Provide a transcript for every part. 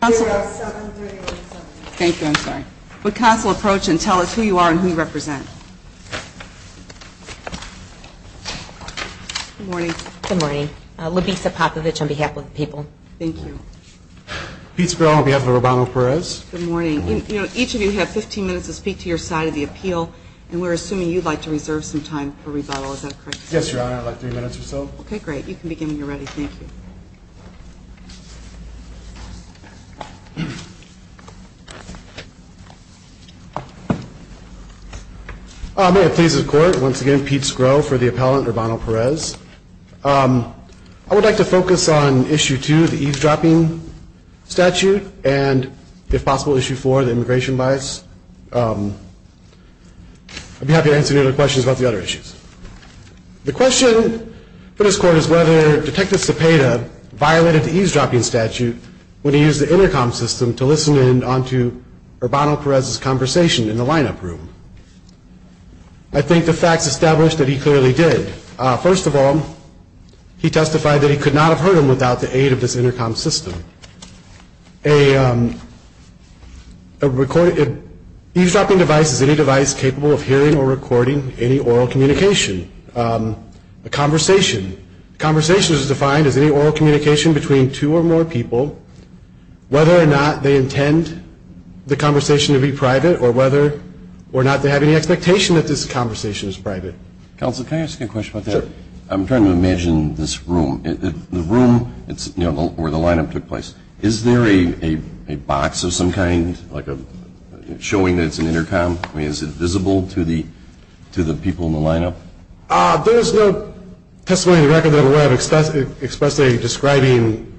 Good morning. Each of you have 15 minutes to speak to your side of the appeal, and we're assuming you'd like to reserve some time for rebuttal. Is that correct, sir? Yes, Your Honor. I'd like three minutes or so. Okay, great. You can begin when you're ready. Thank you. May it please the Court, once again, Pete Skro for the appellant Urbano-Perez. I would like to focus on Issue 2, the eavesdropping statute, and, if possible, Issue 4, the immigration bias. I'd be happy to answer any other questions about the other issues. The question for this Court is whether Detective Cepeda violated the eavesdropping statute when he used the intercom system to listen in onto Urbano-Perez's conversation in the lineup room. I think the facts establish that he clearly did. First of all, he testified that he could not have heard him without the aid of this intercom system. A eavesdropping device is any device capable of hearing or recording any oral communication. A conversation is defined as any oral communication between two or more people, whether or not they intend the conversation to be private or whether or not they have any expectation that this conversation is private. Counsel, can I ask you a question about that? Sure. I'm trying to imagine this room, the room where the lineup took place. Is there a box of some kind showing that it's an intercom? I mean, is it visible to the people in the lineup? There is no testimony in the record that I'm aware of expressly describing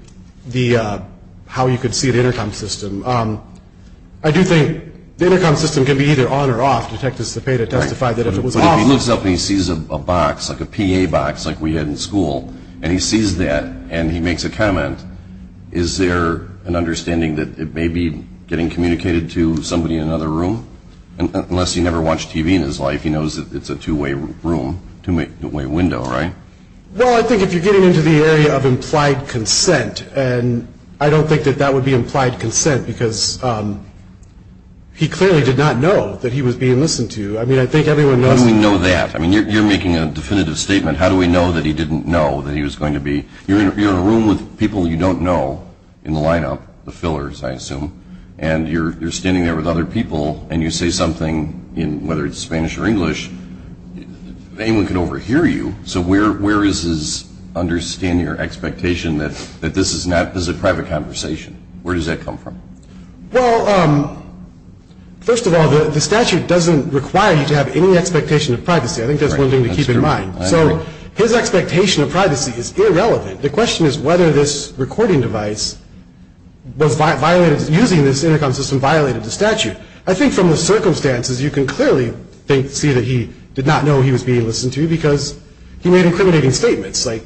how you could see the intercom system. I do think the intercom system can be either on or off. But if he looks up and he sees a box, like a PA box like we had in school, and he sees that and he makes a comment, is there an understanding that it may be getting communicated to somebody in another room? Unless he never watched TV in his life, he knows it's a two-way room, two-way window, right? Well, I think if you're getting into the area of implied consent, and I don't think that that would be implied consent because he clearly did not know that he was being listened to. I mean, I think everyone knows. How do we know that? I mean, you're making a definitive statement. How do we know that he didn't know that he was going to be? You're in a room with people you don't know in the lineup, the fillers, I assume, and you're standing there with other people and you say something, whether it's Spanish or English, anyone could overhear you. So where is his understanding or expectation that this is a private conversation? Where does that come from? Well, first of all, the statute doesn't require you to have any expectation of privacy. I think that's one thing to keep in mind. So his expectation of privacy is irrelevant. The question is whether this recording device using this intercom system violated the statute. I think from the circumstances, you can clearly see that he did not know he was being listened to because he made incriminating statements. I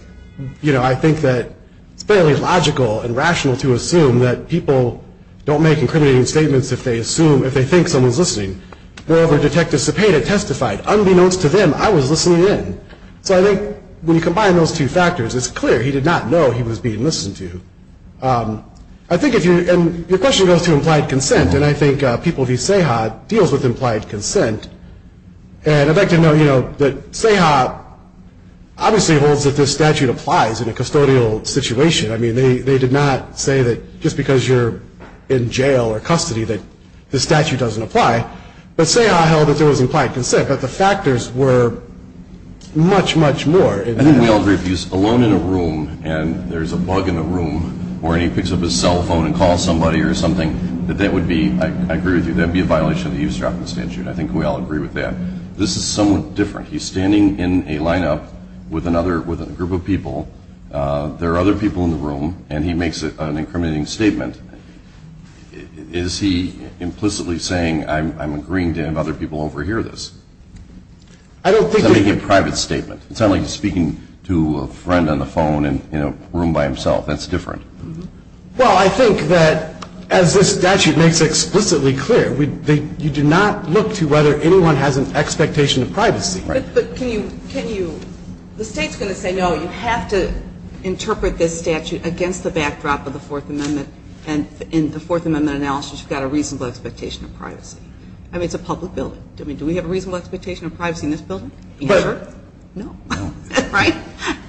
think that it's fairly logical and rational to assume that people don't make incriminating statements if they think someone's listening. Moreover, Detective Cepeda testified, unbeknownst to them, I was listening in. So I think when you combine those two factors, it's clear he did not know he was being listened to. And your question goes to implied consent, and I think people v. Ceja deals with implied consent. And I'd like to know, you know, that Ceja obviously holds that this statute applies in a custodial situation. I mean, they did not say that just because you're in jail or custody that the statute doesn't apply. But Ceja held that there was implied consent, but the factors were much, much more. I think we all agree if he's alone in a room and there's a bug in the room or he picks up his cell phone and calls somebody or something, that that would be, I agree with you, that would be a violation of the eavesdropping statute. I think we all agree with that. This is somewhat different. He's standing in a lineup with another, with a group of people. There are other people in the room, and he makes an incriminating statement. Is he implicitly saying, I'm agreeing to have other people overhear this? I don't think that. He's making a private statement. It's not like he's speaking to a friend on the phone in a room by himself. That's different. Well, I think that as this statute makes explicitly clear, you do not look to whether anyone has an expectation of privacy. But can you, can you, the State's going to say, no, you have to interpret this statute against the backdrop of the Fourth Amendment, and in the Fourth Amendment analysis, you've got a reasonable expectation of privacy. I mean, it's a public building. I mean, do we have a reasonable expectation of privacy in this building? Never? No. Right?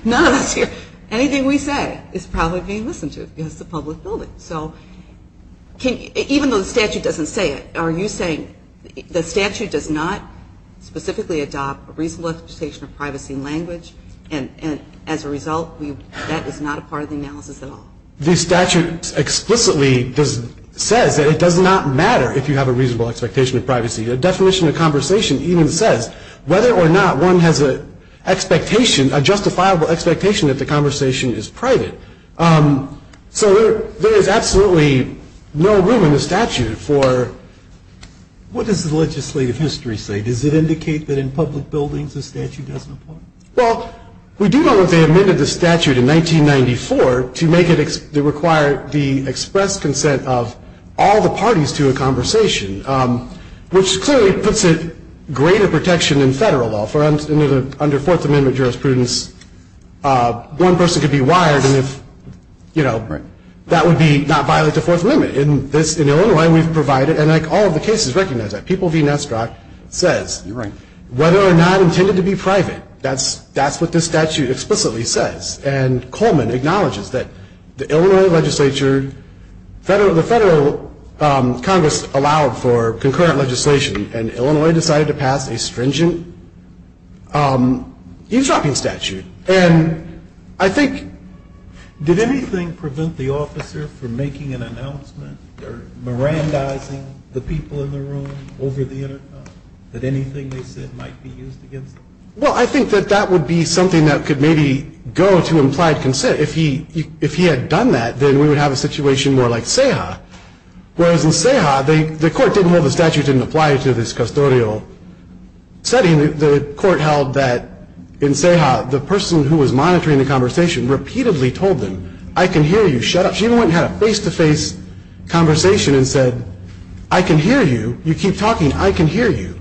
None of us here. Anything we say is probably being listened to because it's a public building. So even though the statute doesn't say it, are you saying the statute does not specifically adopt a reasonable expectation of privacy language, and as a result, that is not a part of the analysis at all? The statute explicitly says that it does not matter if you have a reasonable expectation of privacy. The definition of conversation even says whether or not one has an expectation, a justifiable expectation that the conversation is private. So there is absolutely no room in the statute for. What does the legislative history say? Does it indicate that in public buildings the statute doesn't apply? Well, we do know that they amended the statute in 1994 to make it, to require the express consent of all the parties to a conversation, which clearly puts it greater protection in federal law. Under Fourth Amendment jurisprudence, one person could be wired, and if, you know, that would not violate the Fourth Amendment. In Illinois, we've provided, and all of the cases recognize that. People v. Nesterov says whether or not intended to be private, that's what this statute explicitly says. And Coleman acknowledges that the Illinois legislature, the federal Congress allowed for concurrent legislation, and Illinois decided to pass a stringent eavesdropping statute. And I think. Did anything prevent the officer from making an announcement or mirandizing the people in the room over the intercom that anything they said might be used against them? Well, I think that that would be something that could maybe go to implied consent. If he had done that, then we would have a situation more like Seha. Whereas in Seha, the court didn't hold the statute didn't apply to this custodial setting. The court held that in Seha, the person who was monitoring the conversation repeatedly told them, I can hear you, shut up. She even went and had a face-to-face conversation and said, I can hear you. You keep talking. I can hear you.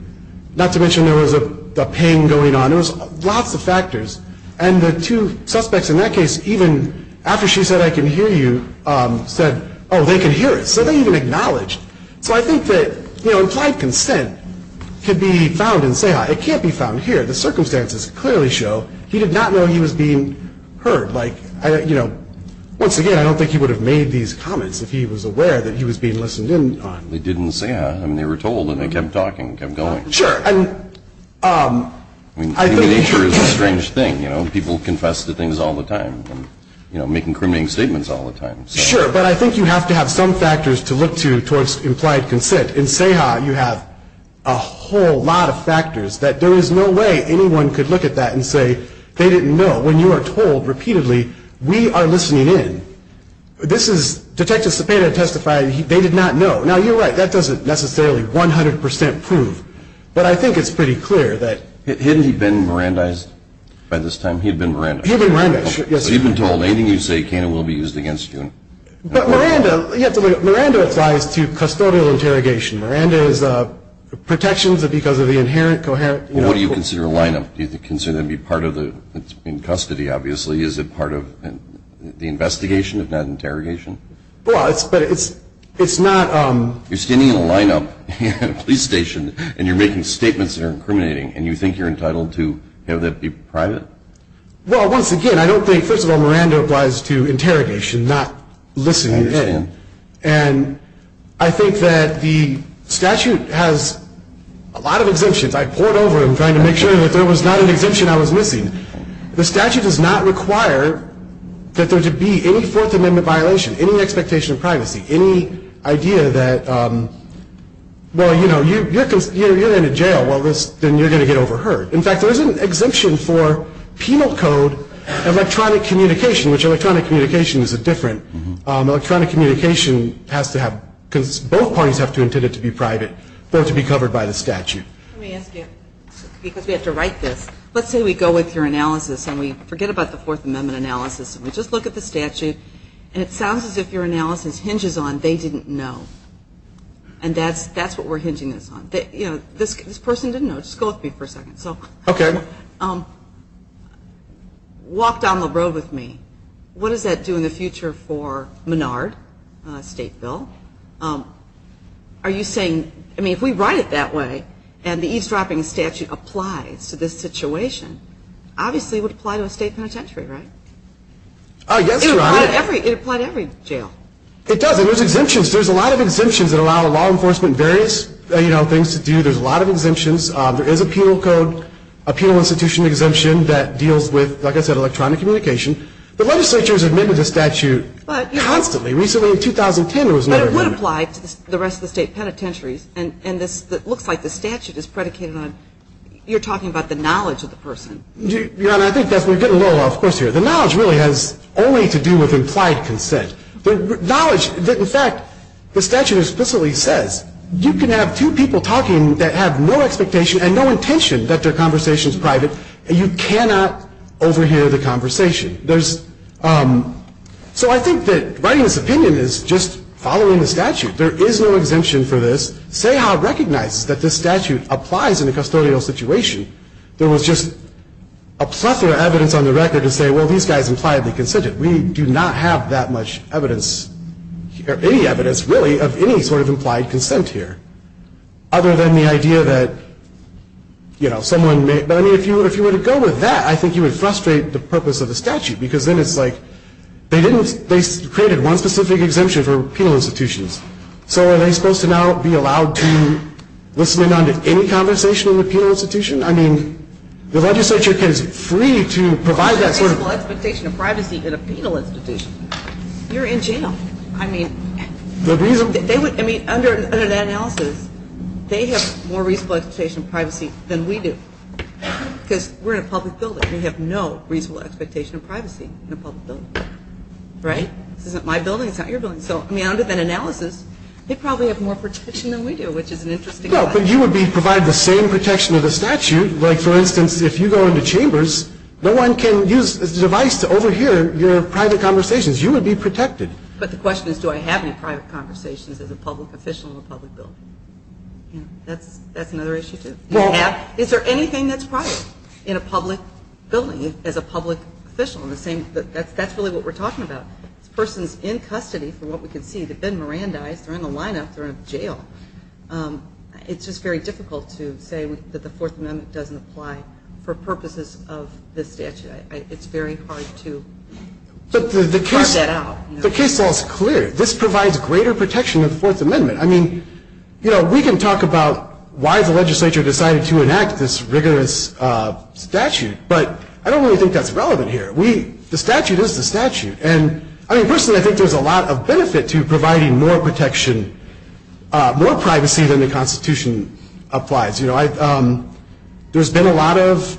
Not to mention there was a pain going on. There was lots of factors. And the two suspects in that case, even after she said, I can hear you, said, oh, they can hear us. So they even acknowledged. So I think that, you know, implied consent could be found in Seha. It can't be found here. The circumstances clearly show he did not know he was being heard. Like, you know, once again, I don't think he would have made these comments if he was aware that he was being listened in on. They did in Seha. I mean, they were told. And they kept talking, kept going. Sure. And I think the nature is a strange thing. You know, people confess to things all the time and, you know, making criminal statements all the time. Sure. But I think you have to have some factors to look to towards implied consent. In Seha, you have a whole lot of factors that there is no way anyone could look at that and say they didn't know. When you are told repeatedly, we are listening in, this is Detective Cepeda testifying, they did not know. Now, you're right, that doesn't necessarily 100% prove. But I think it's pretty clear that. Hadn't he been Mirandized by this time? He had been Mirandized. He had been Mirandized, yes. But you've been told anything you say can and will be used against you. But Miranda, you have to look at Miranda applies to custodial interrogation. Miranda is protections because of the inherent, coherent. Well, what do you consider a line-up? Do you consider that to be part of the custody, obviously? Is it part of the investigation, if not interrogation? Well, it's not. You're standing in a line-up at a police station and you're making statements that are incriminating. And you think you're entitled to have that be private? Well, once again, I don't think, first of all, Miranda applies to interrogation, not listening in. And I think that the statute has a lot of exemptions. I poured over them trying to make sure that there was not an exemption I was missing. The statute does not require that there to be any Fourth Amendment violation, any expectation of privacy, any idea that, well, you know, you're in a jail, well, then you're going to get overheard. In fact, there is an exemption for penal code electronic communication, which electronic communication is different. Electronic communication has to have, because both parties have to intend it to be private, for it to be covered by the statute. Let me ask you, because we have to write this, let's say we go with your analysis and we forget about the Fourth Amendment analysis and we just look at the statute, and it sounds as if your analysis hinges on they didn't know. And that's what we're hinging this on. You know, this person didn't know. Just go with me for a second. Okay. Walk down the road with me. What does that do in the future for Menard state bill? Are you saying, I mean, if we write it that way and the eavesdropping statute applies to this situation, obviously it would apply to a state penitentiary, right? Yes, Your Honor. It would apply to every jail. It does, and there's exemptions. There's a lot of exemptions that allow law enforcement various, you know, things to do. There's a lot of exemptions. There is a penal code, a penal institution exemption that deals with, like I said, electronic communication. The legislature has amended the statute constantly. Recently, in 2010, it was never amended. But it would apply to the rest of the state penitentiaries, and it looks like the statute is predicated on you're talking about the knowledge of the person. Your Honor, I think we're getting a little off course here. The knowledge really has only to do with implied consent. The knowledge, in fact, the statute explicitly says you can have two people talking that have no expectation and no intention that their conversation is private, and you cannot overhear the conversation. So I think that writing this opinion is just following the statute. There is no exemption for this. Say how it recognizes that this statute applies in a custodial situation. There was just a plethora of evidence on the record to say, well, these guys impliedly consented. We do not have that much evidence, or any evidence, really, of any sort of implied consent here, other than the idea that, you know, someone may – but, I mean, if you were to go with that, I think you would frustrate the purpose of the statute, because then it's like they didn't – they created one specific exemption for penal institutions. So are they supposed to now be allowed to listen in on any conversation in the penal institution? I mean, the legislature is free to provide that sort of – There's no expectation of privacy in a penal institution. You're in jail. I mean – The reason – They would – I mean, under that analysis, they have more reasonable expectation of privacy than we do, because we're in a public building. We have no reasonable expectation of privacy in a public building, right? This isn't my building. It's not your building. So, I mean, under that analysis, they probably have more protection than we do, which is an interesting – No, but you would be – provide the same protection of the statute. Like, for instance, if you go into chambers, You would be protected. But the question is, do I have any private conversations as a public official in a public building? That's another issue, too. Is there anything that's private in a public building as a public official? And the same – that's really what we're talking about. This person's in custody, from what we can see. They've been Mirandized. They're in the lineup. They're in jail. It's just very difficult to say that the Fourth Amendment doesn't apply for purposes of this statute. It's very hard to – To work that out. The case law is clear. This provides greater protection than the Fourth Amendment. I mean, you know, we can talk about why the legislature decided to enact this rigorous statute, but I don't really think that's relevant here. The statute is the statute. And, I mean, personally, I think there's a lot of benefit to providing more protection, more privacy than the Constitution applies. There's been a lot of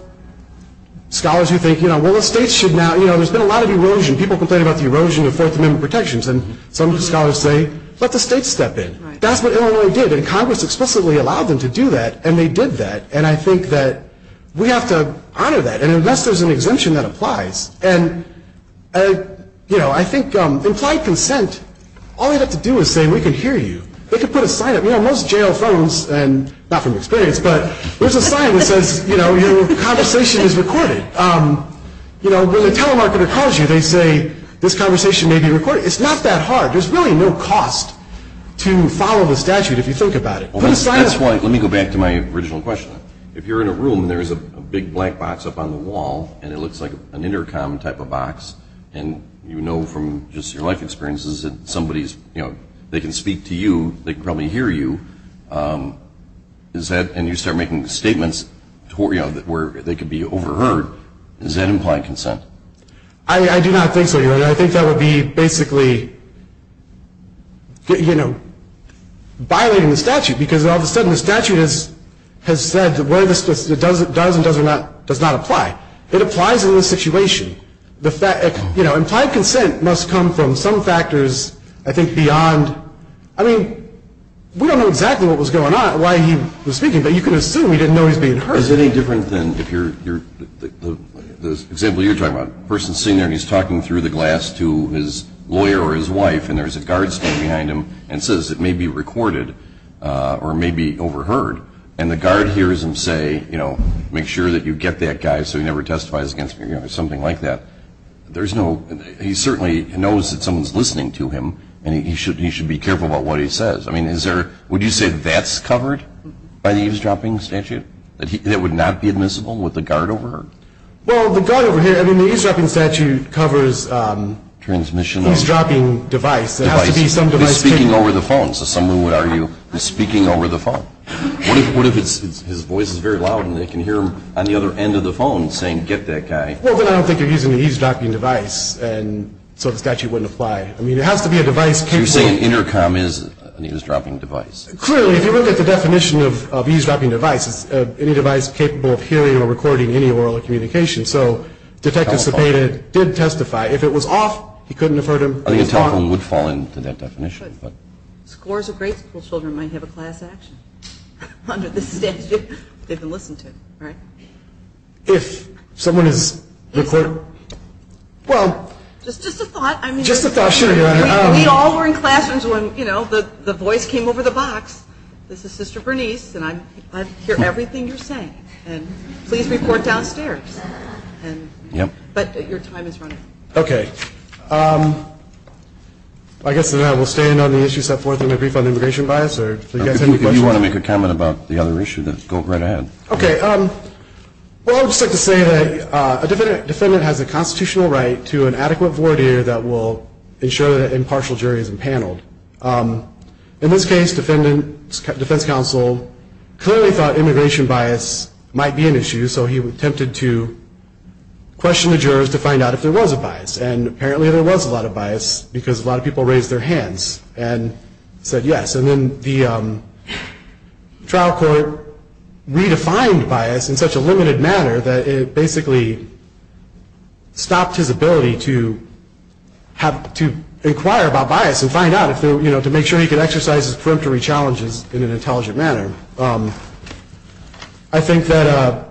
scholars who think, you know, well, the states should now – you know, there's been a lot of erosion. People complain about the erosion of Fourth Amendment protections. And some scholars say, let the states step in. That's what Illinois did. And Congress explicitly allowed them to do that, and they did that. And I think that we have to honor that. And unless there's an exemption, that applies. And, you know, I think implied consent, all they have to do is say, we can hear you. They can put a sign up. You know, most jail phones – and not from experience – but there's a sign that says, you know, your conversation is recorded. You know, when the telemarketer calls you, they say, this conversation may be recorded. It's not that hard. There's really no cost to follow the statute if you think about it. That's why – let me go back to my original question. If you're in a room and there's a big black box up on the wall, and it looks like an intercom type of box, and you know from just your life experiences that somebody's – you know, they can speak to you. They can probably hear you. Is that – and you start making statements where, you know, they could be overheard. Is that implied consent? I do not think so, Your Honor. I think that would be basically, you know, violating the statute because all of a sudden the statute has said – does and does not apply. It applies in this situation. You know, implied consent must come from some factors, I think, beyond – I mean, we don't know exactly what was going on, why he was speaking, but you can assume he didn't know he was being heard. Is it any different than if you're – the example you're talking about, a person's sitting there and he's talking through the glass to his lawyer or his wife, and there's a guard standing behind him and says it may be recorded or may be overheard, and the guard hears him say, you know, make sure that you get that guy so he never testifies against me or something like that. There's no – he certainly knows that someone's listening to him, and he should be careful about what he says. I mean, is there – would you say that's covered by the eavesdropping statute, that it would not be admissible with the guard over her? Well, the guard over here – I mean, the eavesdropping statute covers – Transmission of – Eavesdropping device. It has to be some device – He's speaking over the phone, so someone would argue he's speaking over the phone. What if his voice is very loud and they can hear him on the other end of the phone saying, get that guy? Well, then I don't think you're using the eavesdropping device, and so the statute wouldn't apply. I mean, it has to be a device capable – So you're saying an intercom is an eavesdropping device? Clearly. If you look at the definition of eavesdropping device, it's any device capable of hearing or recording any oral communication. So Detective Cepeda did testify. If it was off, he couldn't have heard him. I mean, a telephone would fall into that definition, but – Scores of grade school children might have a class action under the statute if they've been listening to him, right? If someone is recording – Well – Just a thought. We all were in classrooms when, you know, the voice came over the box. This is Sister Bernice, and I hear everything you're saying, and please report downstairs. Yep. But your time is running. Okay. I guess then I will stand on the issue set forth in my brief on immigration bias, or if you guys have any questions – If you want to make a comment about the other issue, go right ahead. Okay. Well, I would just like to say that a defendant has a constitutional right to an adequate voir dire that will ensure that an impartial jury is empaneled. In this case, the defense counsel clearly thought immigration bias might be an issue, so he attempted to question the jurors to find out if there was a bias, and apparently there was a lot of bias because a lot of people raised their hands and said yes. And then the trial court redefined bias in such a limited manner that it basically stopped his ability to inquire about bias and find out to make sure he could exercise his peremptory challenges in an intelligent manner. I think that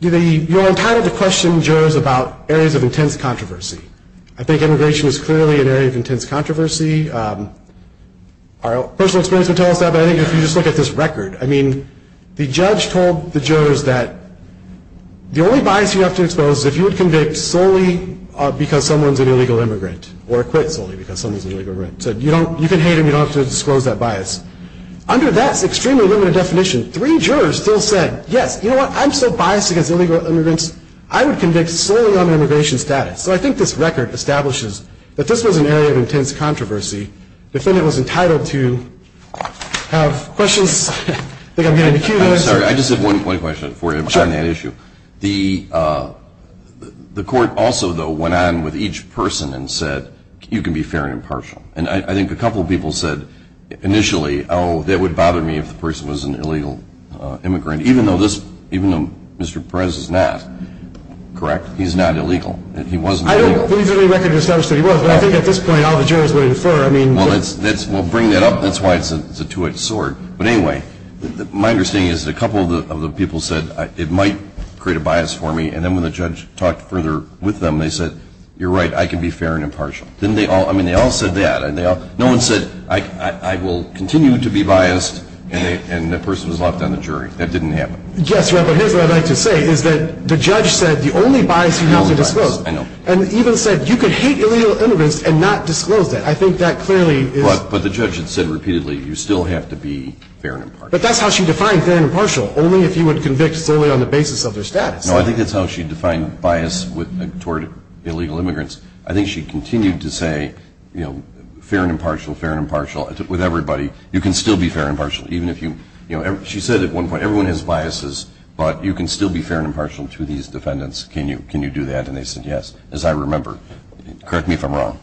you're entitled to question jurors about areas of intense controversy. I think immigration is clearly an area of intense controversy. Our personal experience would tell us that, but I think if you just look at this record, I mean, the judge told the jurors that the only bias you have to expose is if you would convict solely because someone's an illegal immigrant or acquit solely because someone's an illegal immigrant. He said you can hate him, you don't have to disclose that bias. Under that extremely limited definition, three jurors still said, yes, you know what, I'm so biased against illegal immigrants, I would convict solely on immigration status. So I think this record establishes that this was an area of intense controversy. The defendant was entitled to have questions. I think I'm getting the cue there. I'm sorry, I just have one quick question for you on that issue. The court also, though, went on with each person and said you can be fair and impartial. And I think a couple of people said initially, oh, that would bother me if the person was an illegal immigrant, even though Mr. Perez is not. Correct? He's not illegal. He wasn't illegal. I don't believe that any record established that he was, but I think at this point all the jurors would infer. Well, bring that up. That's why it's a two-edged sword. But anyway, my understanding is that a couple of the people said it might create a bias for me, and then when the judge talked further with them, they said, you're right, I can be fair and impartial. I mean, they all said that. No one said I will continue to be biased, and the person was left on the jury. That didn't happen. Yes, but here's what I'd like to say is that the judge said the only bias you have to disclose, and even said you could hate illegal immigrants and not disclose that. I think that clearly is. But the judge had said repeatedly, you still have to be fair and impartial. But that's how she defined fair and impartial, only if you would convict solely on the basis of their status. No, I think that's how she defined bias toward illegal immigrants. I think she continued to say, you know, fair and impartial, fair and impartial with everybody. You can still be fair and impartial even if you, you know, she said at one point, everyone has biases, but you can still be fair and impartial to these defendants. Can you do that? And they said yes, as I remember. Correct me if I'm wrong.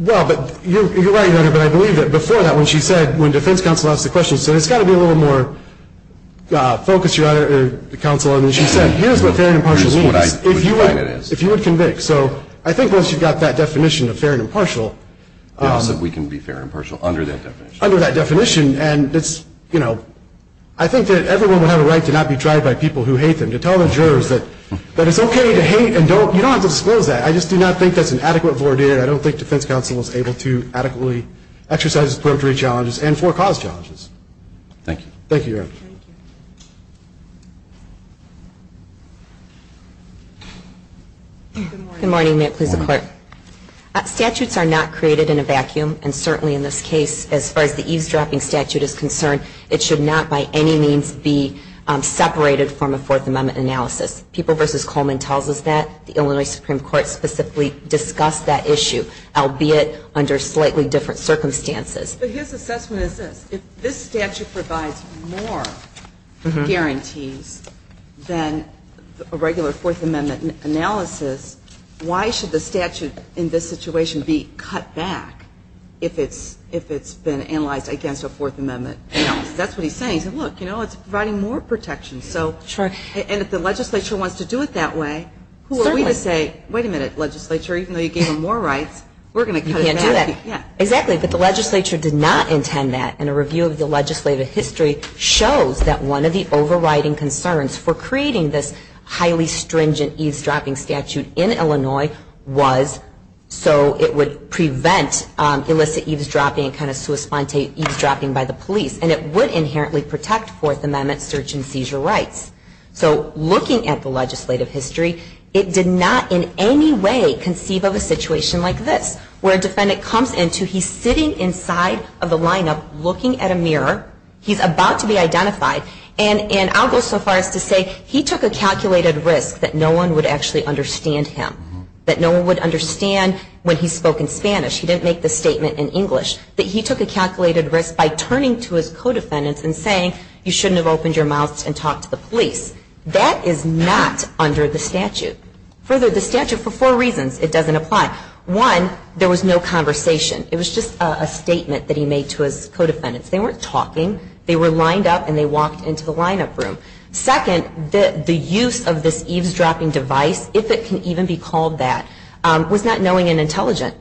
Well, but you're right, Your Honor, but I believe that before that when she said, when defense counsel asked the question, she said it's got to be a little more focused, Your Honor, the counsel, and then she said, here's what fair and impartial means. Here's what I define it as. If you would convict. So I think once you've got that definition of fair and impartial. How else can we be fair and impartial under that definition? Under that definition, and it's, you know, I think that everyone would have a right to not be tried by people who hate them, and to tell the jurors that it's okay to hate and don't, you don't have to disclose that. I just do not think that's an adequate vordict. I don't think defense counsel is able to adequately exercise its purgatory challenges and for cause challenges. Thank you. Thank you, Your Honor. Thank you. Good morning. May it please the Court. Statutes are not created in a vacuum, and certainly in this case, as far as the eavesdropping statute is concerned, it should not by any means be separated from a Fourth Amendment analysis. People v. Coleman tells us that. The Illinois Supreme Court specifically discussed that issue, albeit under slightly different circumstances. But his assessment is this. If this statute provides more guarantees than a regular Fourth Amendment analysis, why should the statute in this situation be cut back if it's been analyzed against a Fourth Amendment analysis? That's what he's saying. He's saying, look, you know, it's providing more protection. Sure. And if the legislature wants to do it that way, who are we to say, wait a minute, legislature, even though you gave them more rights, we're going to cut it back. You can't do that. Yeah. Exactly. But the legislature did not intend that, and a review of the legislative history shows that one of the overriding concerns for creating this highly stringent eavesdropping statute in Illinois was so it would prevent illicit eavesdropping and kind of sui sponte eavesdropping by the police. And it would inherently protect Fourth Amendment search and seizure rights. So looking at the legislative history, it did not in any way conceive of a situation like this, where a defendant comes into, he's sitting inside of the lineup looking at a mirror. He's about to be identified. And I'll go so far as to say he took a calculated risk that no one would actually understand him, that no one would understand when he spoke in Spanish, he didn't make the statement in English, that he took a calculated risk by turning to his co-defendants and saying, you shouldn't have opened your mouth and talked to the police. That is not under the statute. Further, the statute, for four reasons, it doesn't apply. One, there was no conversation. It was just a statement that he made to his co-defendants. They weren't talking. They were lined up and they walked into the lineup room. Second, the use of this eavesdropping device, if it can even be called that, was not knowing and intelligent.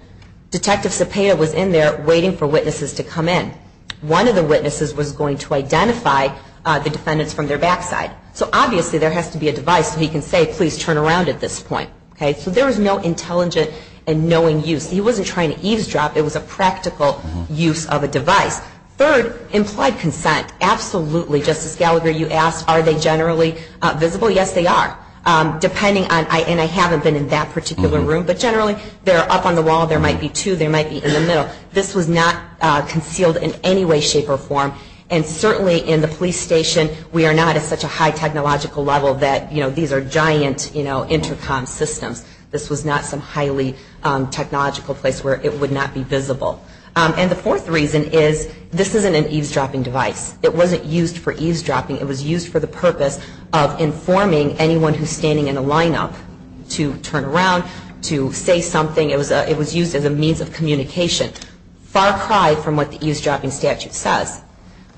Detective Cepeda was in there waiting for witnesses to come in. One of the witnesses was going to identify the defendants from their backside. So obviously there has to be a device so he can say, please turn around at this point. So there was no intelligent and knowing use. He wasn't trying to eavesdrop. It was a practical use of a device. Third, implied consent. Absolutely. Justice Gallagher, you asked, are they generally visible? Yes, they are. And I haven't been in that particular room, but generally they're up on the wall. There might be two. They might be in the middle. This was not concealed in any way, shape, or form. And certainly in the police station, we are not at such a high technological level that these are giant intercom systems. This was not some highly technological place where it would not be visible. And the fourth reason is this isn't an eavesdropping device. It wasn't used for eavesdropping. It was used for the purpose of informing anyone who's standing in a lineup to turn around, to say something. It was used as a means of communication. Far cry from what the eavesdropping statute says.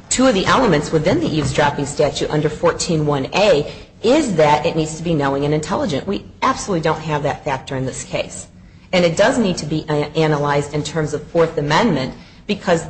Two of the elements within the eavesdropping statute under 141A is that it needs to be knowing and intelligent. We absolutely don't have that factor in this case. And it does need to be analyzed in terms of Fourth Amendment, because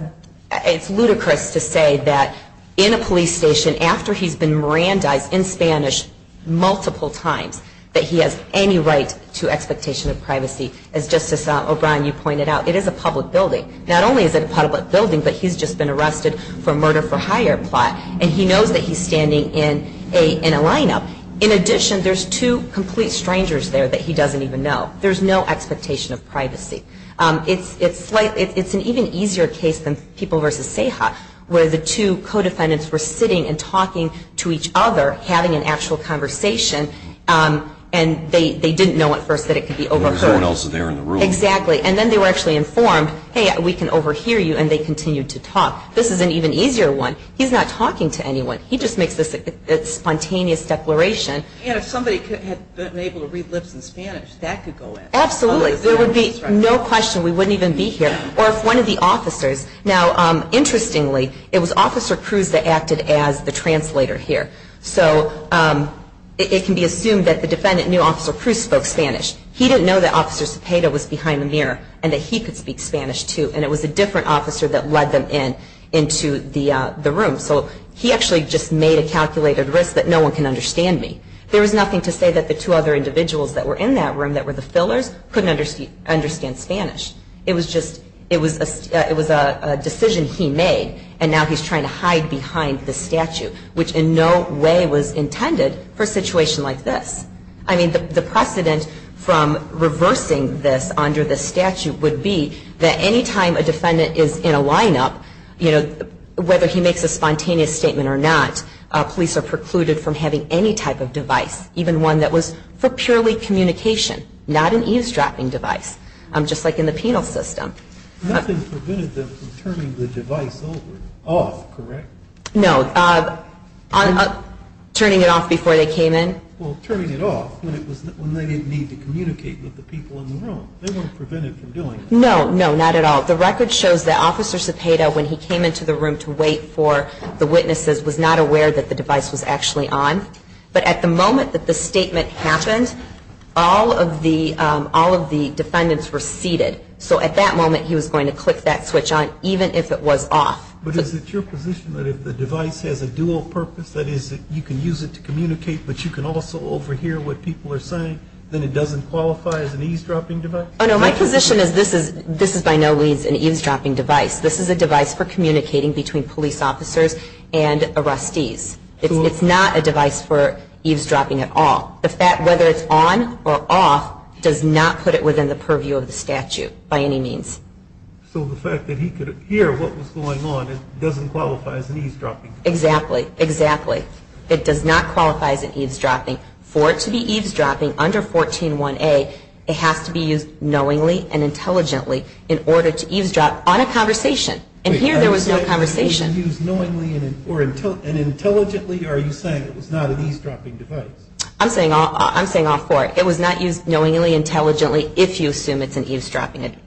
it's ludicrous to say that in a police station, after he's been Mirandized in Spanish multiple times, that he has any right to expectation of privacy. As Justice O'Brien, you pointed out, it is a public building. Not only is it a public building, but he's just been arrested for a murder-for-hire plot. And he knows that he's standing in a lineup. In addition, there's two complete strangers there that he doesn't even know. There's no expectation of privacy. It's an even easier case than People v. Ceja, where the two co-defendants were sitting and talking to each other, having an actual conversation, and they didn't know at first that it could be overheard. There was no one else there in the room. Exactly. And then they were actually informed, hey, we can overhear you, and they continued to talk. This is an even easier one. He's not talking to anyone. He just makes this spontaneous declaration. And if somebody had been able to read lips in Spanish, that could go in. Absolutely. There would be no question. We wouldn't even be here. Or if one of the officers, now, interestingly, it was Officer Cruz that acted as the translator here. So it can be assumed that the defendant knew Officer Cruz spoke Spanish. He didn't know that Officer Cepeda was behind the mirror and that he could speak Spanish, too, and it was a different officer that led them into the room. So he actually just made a calculated risk that no one can understand me. There was nothing to say that the two other individuals that were in that room that were the fillers couldn't understand Spanish. It was a decision he made, and now he's trying to hide behind the statute, which in no way was intended for a situation like this. I mean, the precedent from reversing this under the statute would be that any time a defendant is in a lineup, whether he makes a spontaneous statement or not, police are precluded from having any type of device, even one that was for purely communication, not an eavesdropping device, just like in the penal system. Nothing prevented them from turning the device over, off, correct? No. Turning it off before they came in? Well, turning it off when they didn't need to communicate with the people in the room. They weren't prevented from doing that. No, no, not at all. The record shows that Officer Cepeda, when he came into the room to wait for the witnesses, was not aware that the device was actually on. But at the moment that the statement happened, all of the defendants were seated. So at that moment, he was going to click that switch on, even if it was off. But is it your position that if the device has a dual purpose, that is, you can use it to communicate, but you can also overhear what people are saying, then it doesn't qualify as an eavesdropping device? Oh, no, my position is this is by no means an eavesdropping device. This is a device for communicating between police officers and arrestees. It's not a device for eavesdropping at all. Whether it's on or off does not put it within the purview of the statute by any means. So the fact that he could hear what was going on, it doesn't qualify as an eavesdropping device? Exactly, exactly. It does not qualify as an eavesdropping. For it to be eavesdropping under 141A, it has to be used knowingly and intelligently in order to eavesdrop on a conversation. And here there was no conversation. Wait, are you saying it was used knowingly and intelligently, or are you saying it was not an eavesdropping device? I'm saying all four. It was not used knowingly, intelligently, if you assume it's an eavesdropping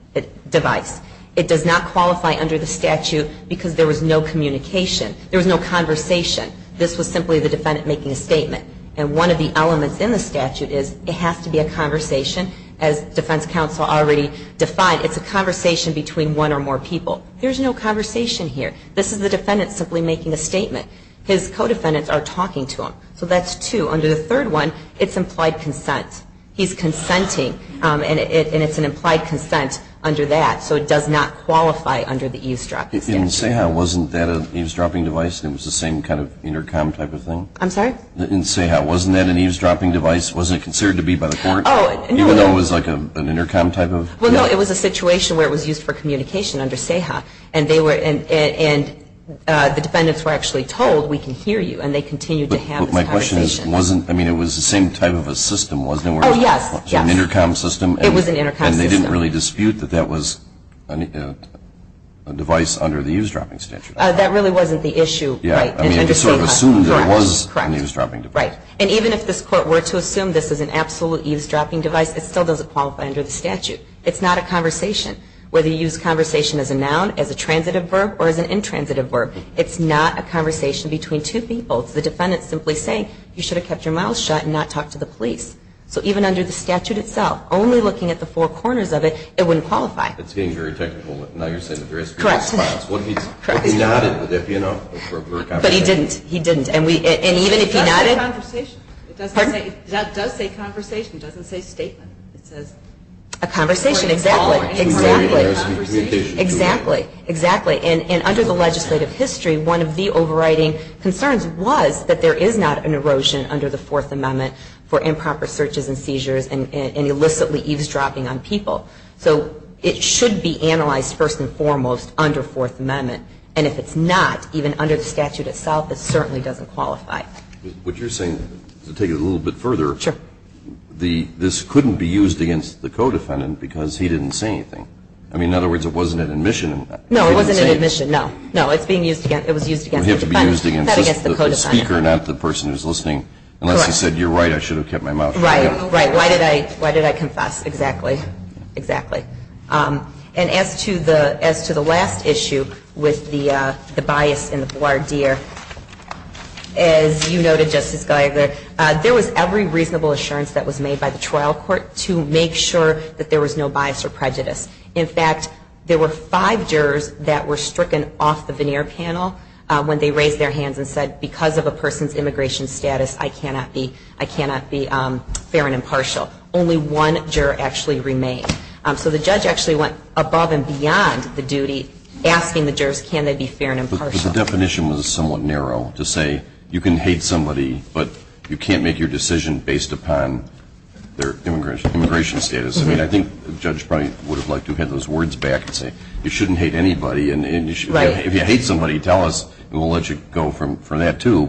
device. It does not qualify under the statute because there was no communication. There was no conversation. This was simply the defendant making a statement. And one of the elements in the statute is it has to be a conversation, as defense counsel already defined. It's a conversation between one or more people. There's no conversation here. This is the defendant simply making a statement. His co-defendants are talking to him. So that's two. Under the third one, it's implied consent. He's consenting, and it's an implied consent under that. So it does not qualify under the eavesdropping statute. In SEHA, wasn't that an eavesdropping device that was the same kind of intercom type of thing? I'm sorry? In SEHA, wasn't that an eavesdropping device? Wasn't it considered to be by the court? Oh, no. Even though it was like an intercom type of? Well, no, it was a situation where it was used for communication under SEHA. And the defendants were actually told, we can hear you, and they continued to have this conversation. But my question is, I mean, it was the same type of a system, wasn't it? Oh, yes, yes. An intercom system. It was an intercom system. And they didn't really dispute that that was a device under the eavesdropping statute. That really wasn't the issue. Yeah. I mean, it was sort of assumed that it was an eavesdropping device. Correct. Right. And even if this court were to assume this is an absolute eavesdropping device, it still doesn't qualify under the statute. It's not a conversation. Whether you use conversation as a noun, as a transitive verb, or as an intransitive verb, it's not a conversation between two people. It's the defendant simply saying, you should have kept your mouth shut and not talked to the police. So even under the statute itself, only looking at the four corners of it, it wouldn't qualify. It's getting very technical. Now you're saying that there is a response. Correct. What if he nodded, if you know, for a conversation? But he didn't. He didn't. And even if he nodded. It does say conversation. Pardon? It does say conversation. It doesn't say statement. It says a conversation. A conversation. Exactly. Exactly. And under the legislative history, one of the overriding concerns was that there is not an erosion under the Fourth Amendment for improper speech. And that is why there is a lot of searches and seizures and illicitly eavesdropping on people. So it should be analyzed first and foremost under Fourth Amendment. And if it's not, even under the statute itself, it certainly doesn't qualify. What you're saying, to take it a little bit further, this couldn't be used against the codefendant because he didn't say anything. I mean, in other words, it wasn't an admission. No, it wasn't an admission. No. No, it's being used against, it was used against the defendant. It was used against the speaker, not the person who is listening. Correct. Unless he said, you're right, I should have kept my mouth shut. Right. Right. Why did I confess? Exactly. Exactly. And as to the last issue with the bias in the voir dire, as you noted, Justice Gallagher, there was every reasonable assurance that was made by the trial court to make sure that there was no bias or prejudice. In fact, there were five jurors that were stricken off the veneer panel when they raised their hands and said, because of a person's immigration status, I cannot be fair and impartial. Only one juror actually remained. So the judge actually went above and beyond the duty, asking the jurors, can they be fair and impartial. But the definition was somewhat narrow to say you can hate somebody, but you can't make your decision based upon their immigration status. I mean, I think the judge probably would have liked to have had those words back and say, you shouldn't hate anybody. Right. If you hate somebody, tell us, and we'll let you go from that, too.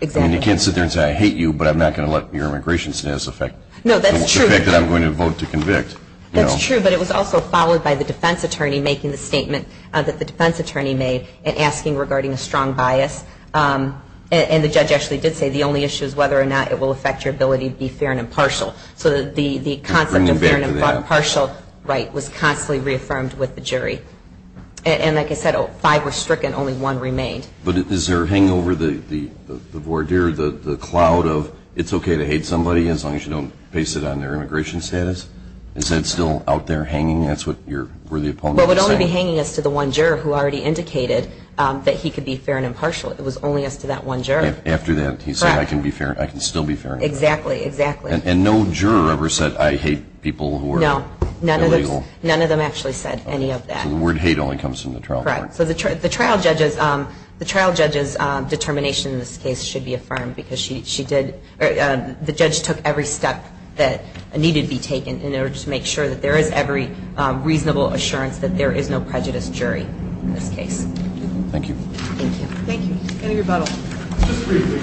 Exactly. I mean, you can't sit there and say, I hate you, but I'm not going to let your immigration status affect the fact that I'm going to vote to convict. That's true, but it was also followed by the defense attorney making the statement that the defense attorney made and asking regarding a strong bias. And the judge actually did say the only issue is whether or not it will affect your ability to be fair and impartial. So the concept of fair and impartial right was constantly reaffirmed with the jury. And like I said, five were stricken, only one remained. But is there a hangover, the voir dire, the cloud of it's okay to hate somebody as long as you don't base it on their immigration status? Is that still out there hanging? That's what your worthy opponent is saying? Well, it would only be hanging as to the one juror who already indicated that he could be fair and impartial. It was only as to that one juror. After that, he said, I can still be fair and impartial. Exactly, exactly. And no juror ever said, I hate people who are illegal? No, none of them actually said any of that. So the word hate only comes from the trial court. Correct. So the trial judge's determination in this case should be affirmed because the judge took every step that needed to be taken in order to make sure that there is every reasonable assurance that there is no prejudiced jury in this case. Thank you. Thank you. Any rebuttals? Just briefly.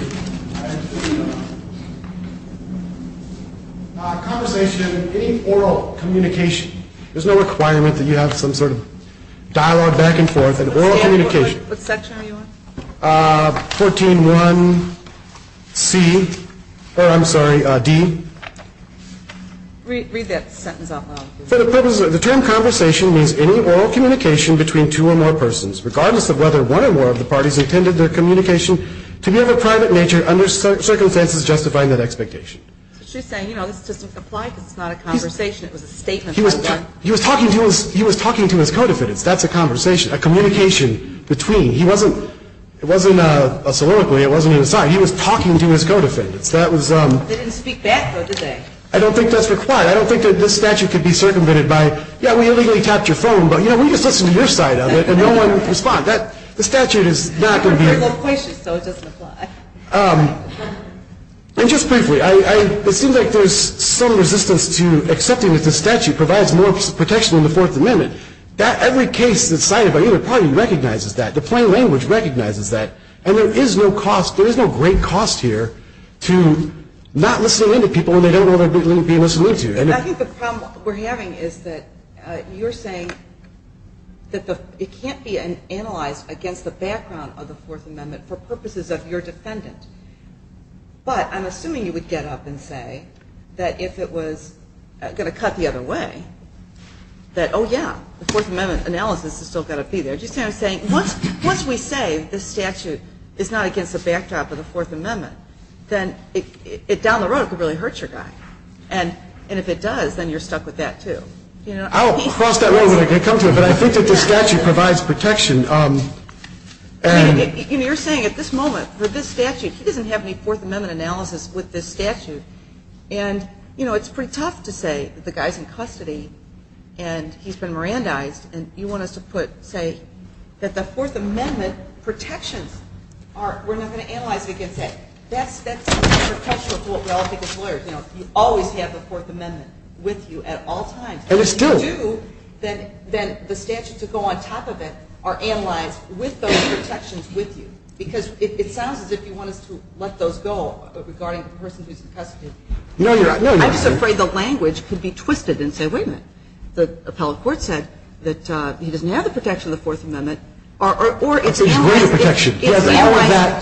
Conversation in any oral communication. There's no requirement that you have some sort of dialogue back and forth in oral communication. What section are you on? 14.1c, or I'm sorry, d. Read that sentence out loud. The term conversation means any oral communication between two or more persons, regardless of whether one or more of the parties intended their communication to be of a private nature under circumstances justifying that expectation. So she's saying, you know, this doesn't apply because it's not a conversation. It was a statement that was done. He was talking to his co-defendants. That's a conversation, a communication between. It wasn't a soliloquy. It wasn't an aside. He was talking to his co-defendants. They didn't speak back, though, did they? I don't think that's required. I don't think that this statute could be circumvented by, yeah, we illegally tapped your phone, but, you know, we just listened to your side of it and no one responded. The statute is not going to be able to. We're loquacious, so it doesn't apply. And just briefly, it seems like there's some resistance to accepting that the statute provides more protection than the Fourth Amendment. Every case that's cited by either party recognizes that. The plain language recognizes that. And there is no great cost here to not listening in to people when they don't know they're being listened to. I think the problem we're having is that you're saying that it can't be analyzed against the background of the Fourth Amendment for purposes of your defendant. But I'm assuming you would get up and say that if it was going to cut the other way, that, oh, yeah, the Fourth Amendment analysis has still got to be there. Just saying, once we say the statute is not against the backdrop of the Fourth Amendment, then down the road it could really hurt your guy. And if it does, then you're stuck with that, too. I'll cross that road when I come to it, but I think that the statute provides protection. You're saying at this moment, for this statute, he doesn't have any Fourth Amendment analysis with this statute. And it's pretty tough to say that the guy's in custody and he's been Mirandized, and you want us to say that the Fourth Amendment protections are, we're not going to analyze it against it. That's perpetual to what we all think as lawyers. You always have the Fourth Amendment with you at all times. And if you do, then the statutes that go on top of it are analyzed with those protections with you. Because it sounds as if you want us to let those go regarding the person who's in custody. I'm just afraid the language could be twisted and say, wait a minute, the appellate court said that he doesn't have the protection of the Fourth Amendment, or it's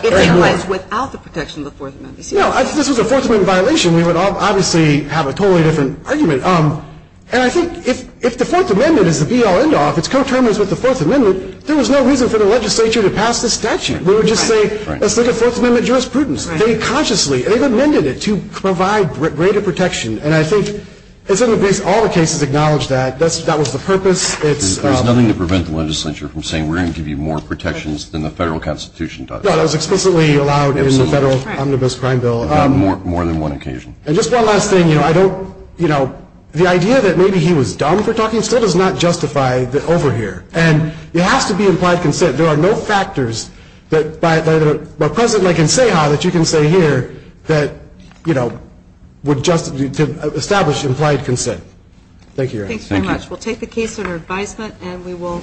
analyzed without the protection of the Fourth Amendment. No, if this was a Fourth Amendment violation, we would obviously have a totally different argument. And I think if the Fourth Amendment is the be-all, end-all, if it's co-terminated with the Fourth Amendment, there was no reason for the legislature to pass this statute. We would just say, let's look at Fourth Amendment jurisprudence. They consciously, they've amended it to provide greater protection. And I think all the cases acknowledge that. That was the purpose. There's nothing to prevent the legislature from saying, we're going to give you more protections than the federal constitution does. No, that was explicitly allowed in the Federal Omnibus Crime Bill. On more than one occasion. And just one last thing, you know, I don't, you know, the idea that maybe he was dumb for talking still does not justify over here. And it has to be implied consent. There are no factors that by present I can say how that you can say here that, you know, would establish implied consent. Thank you, Your Honor. Thanks very much. We'll take the case under advisement and we will.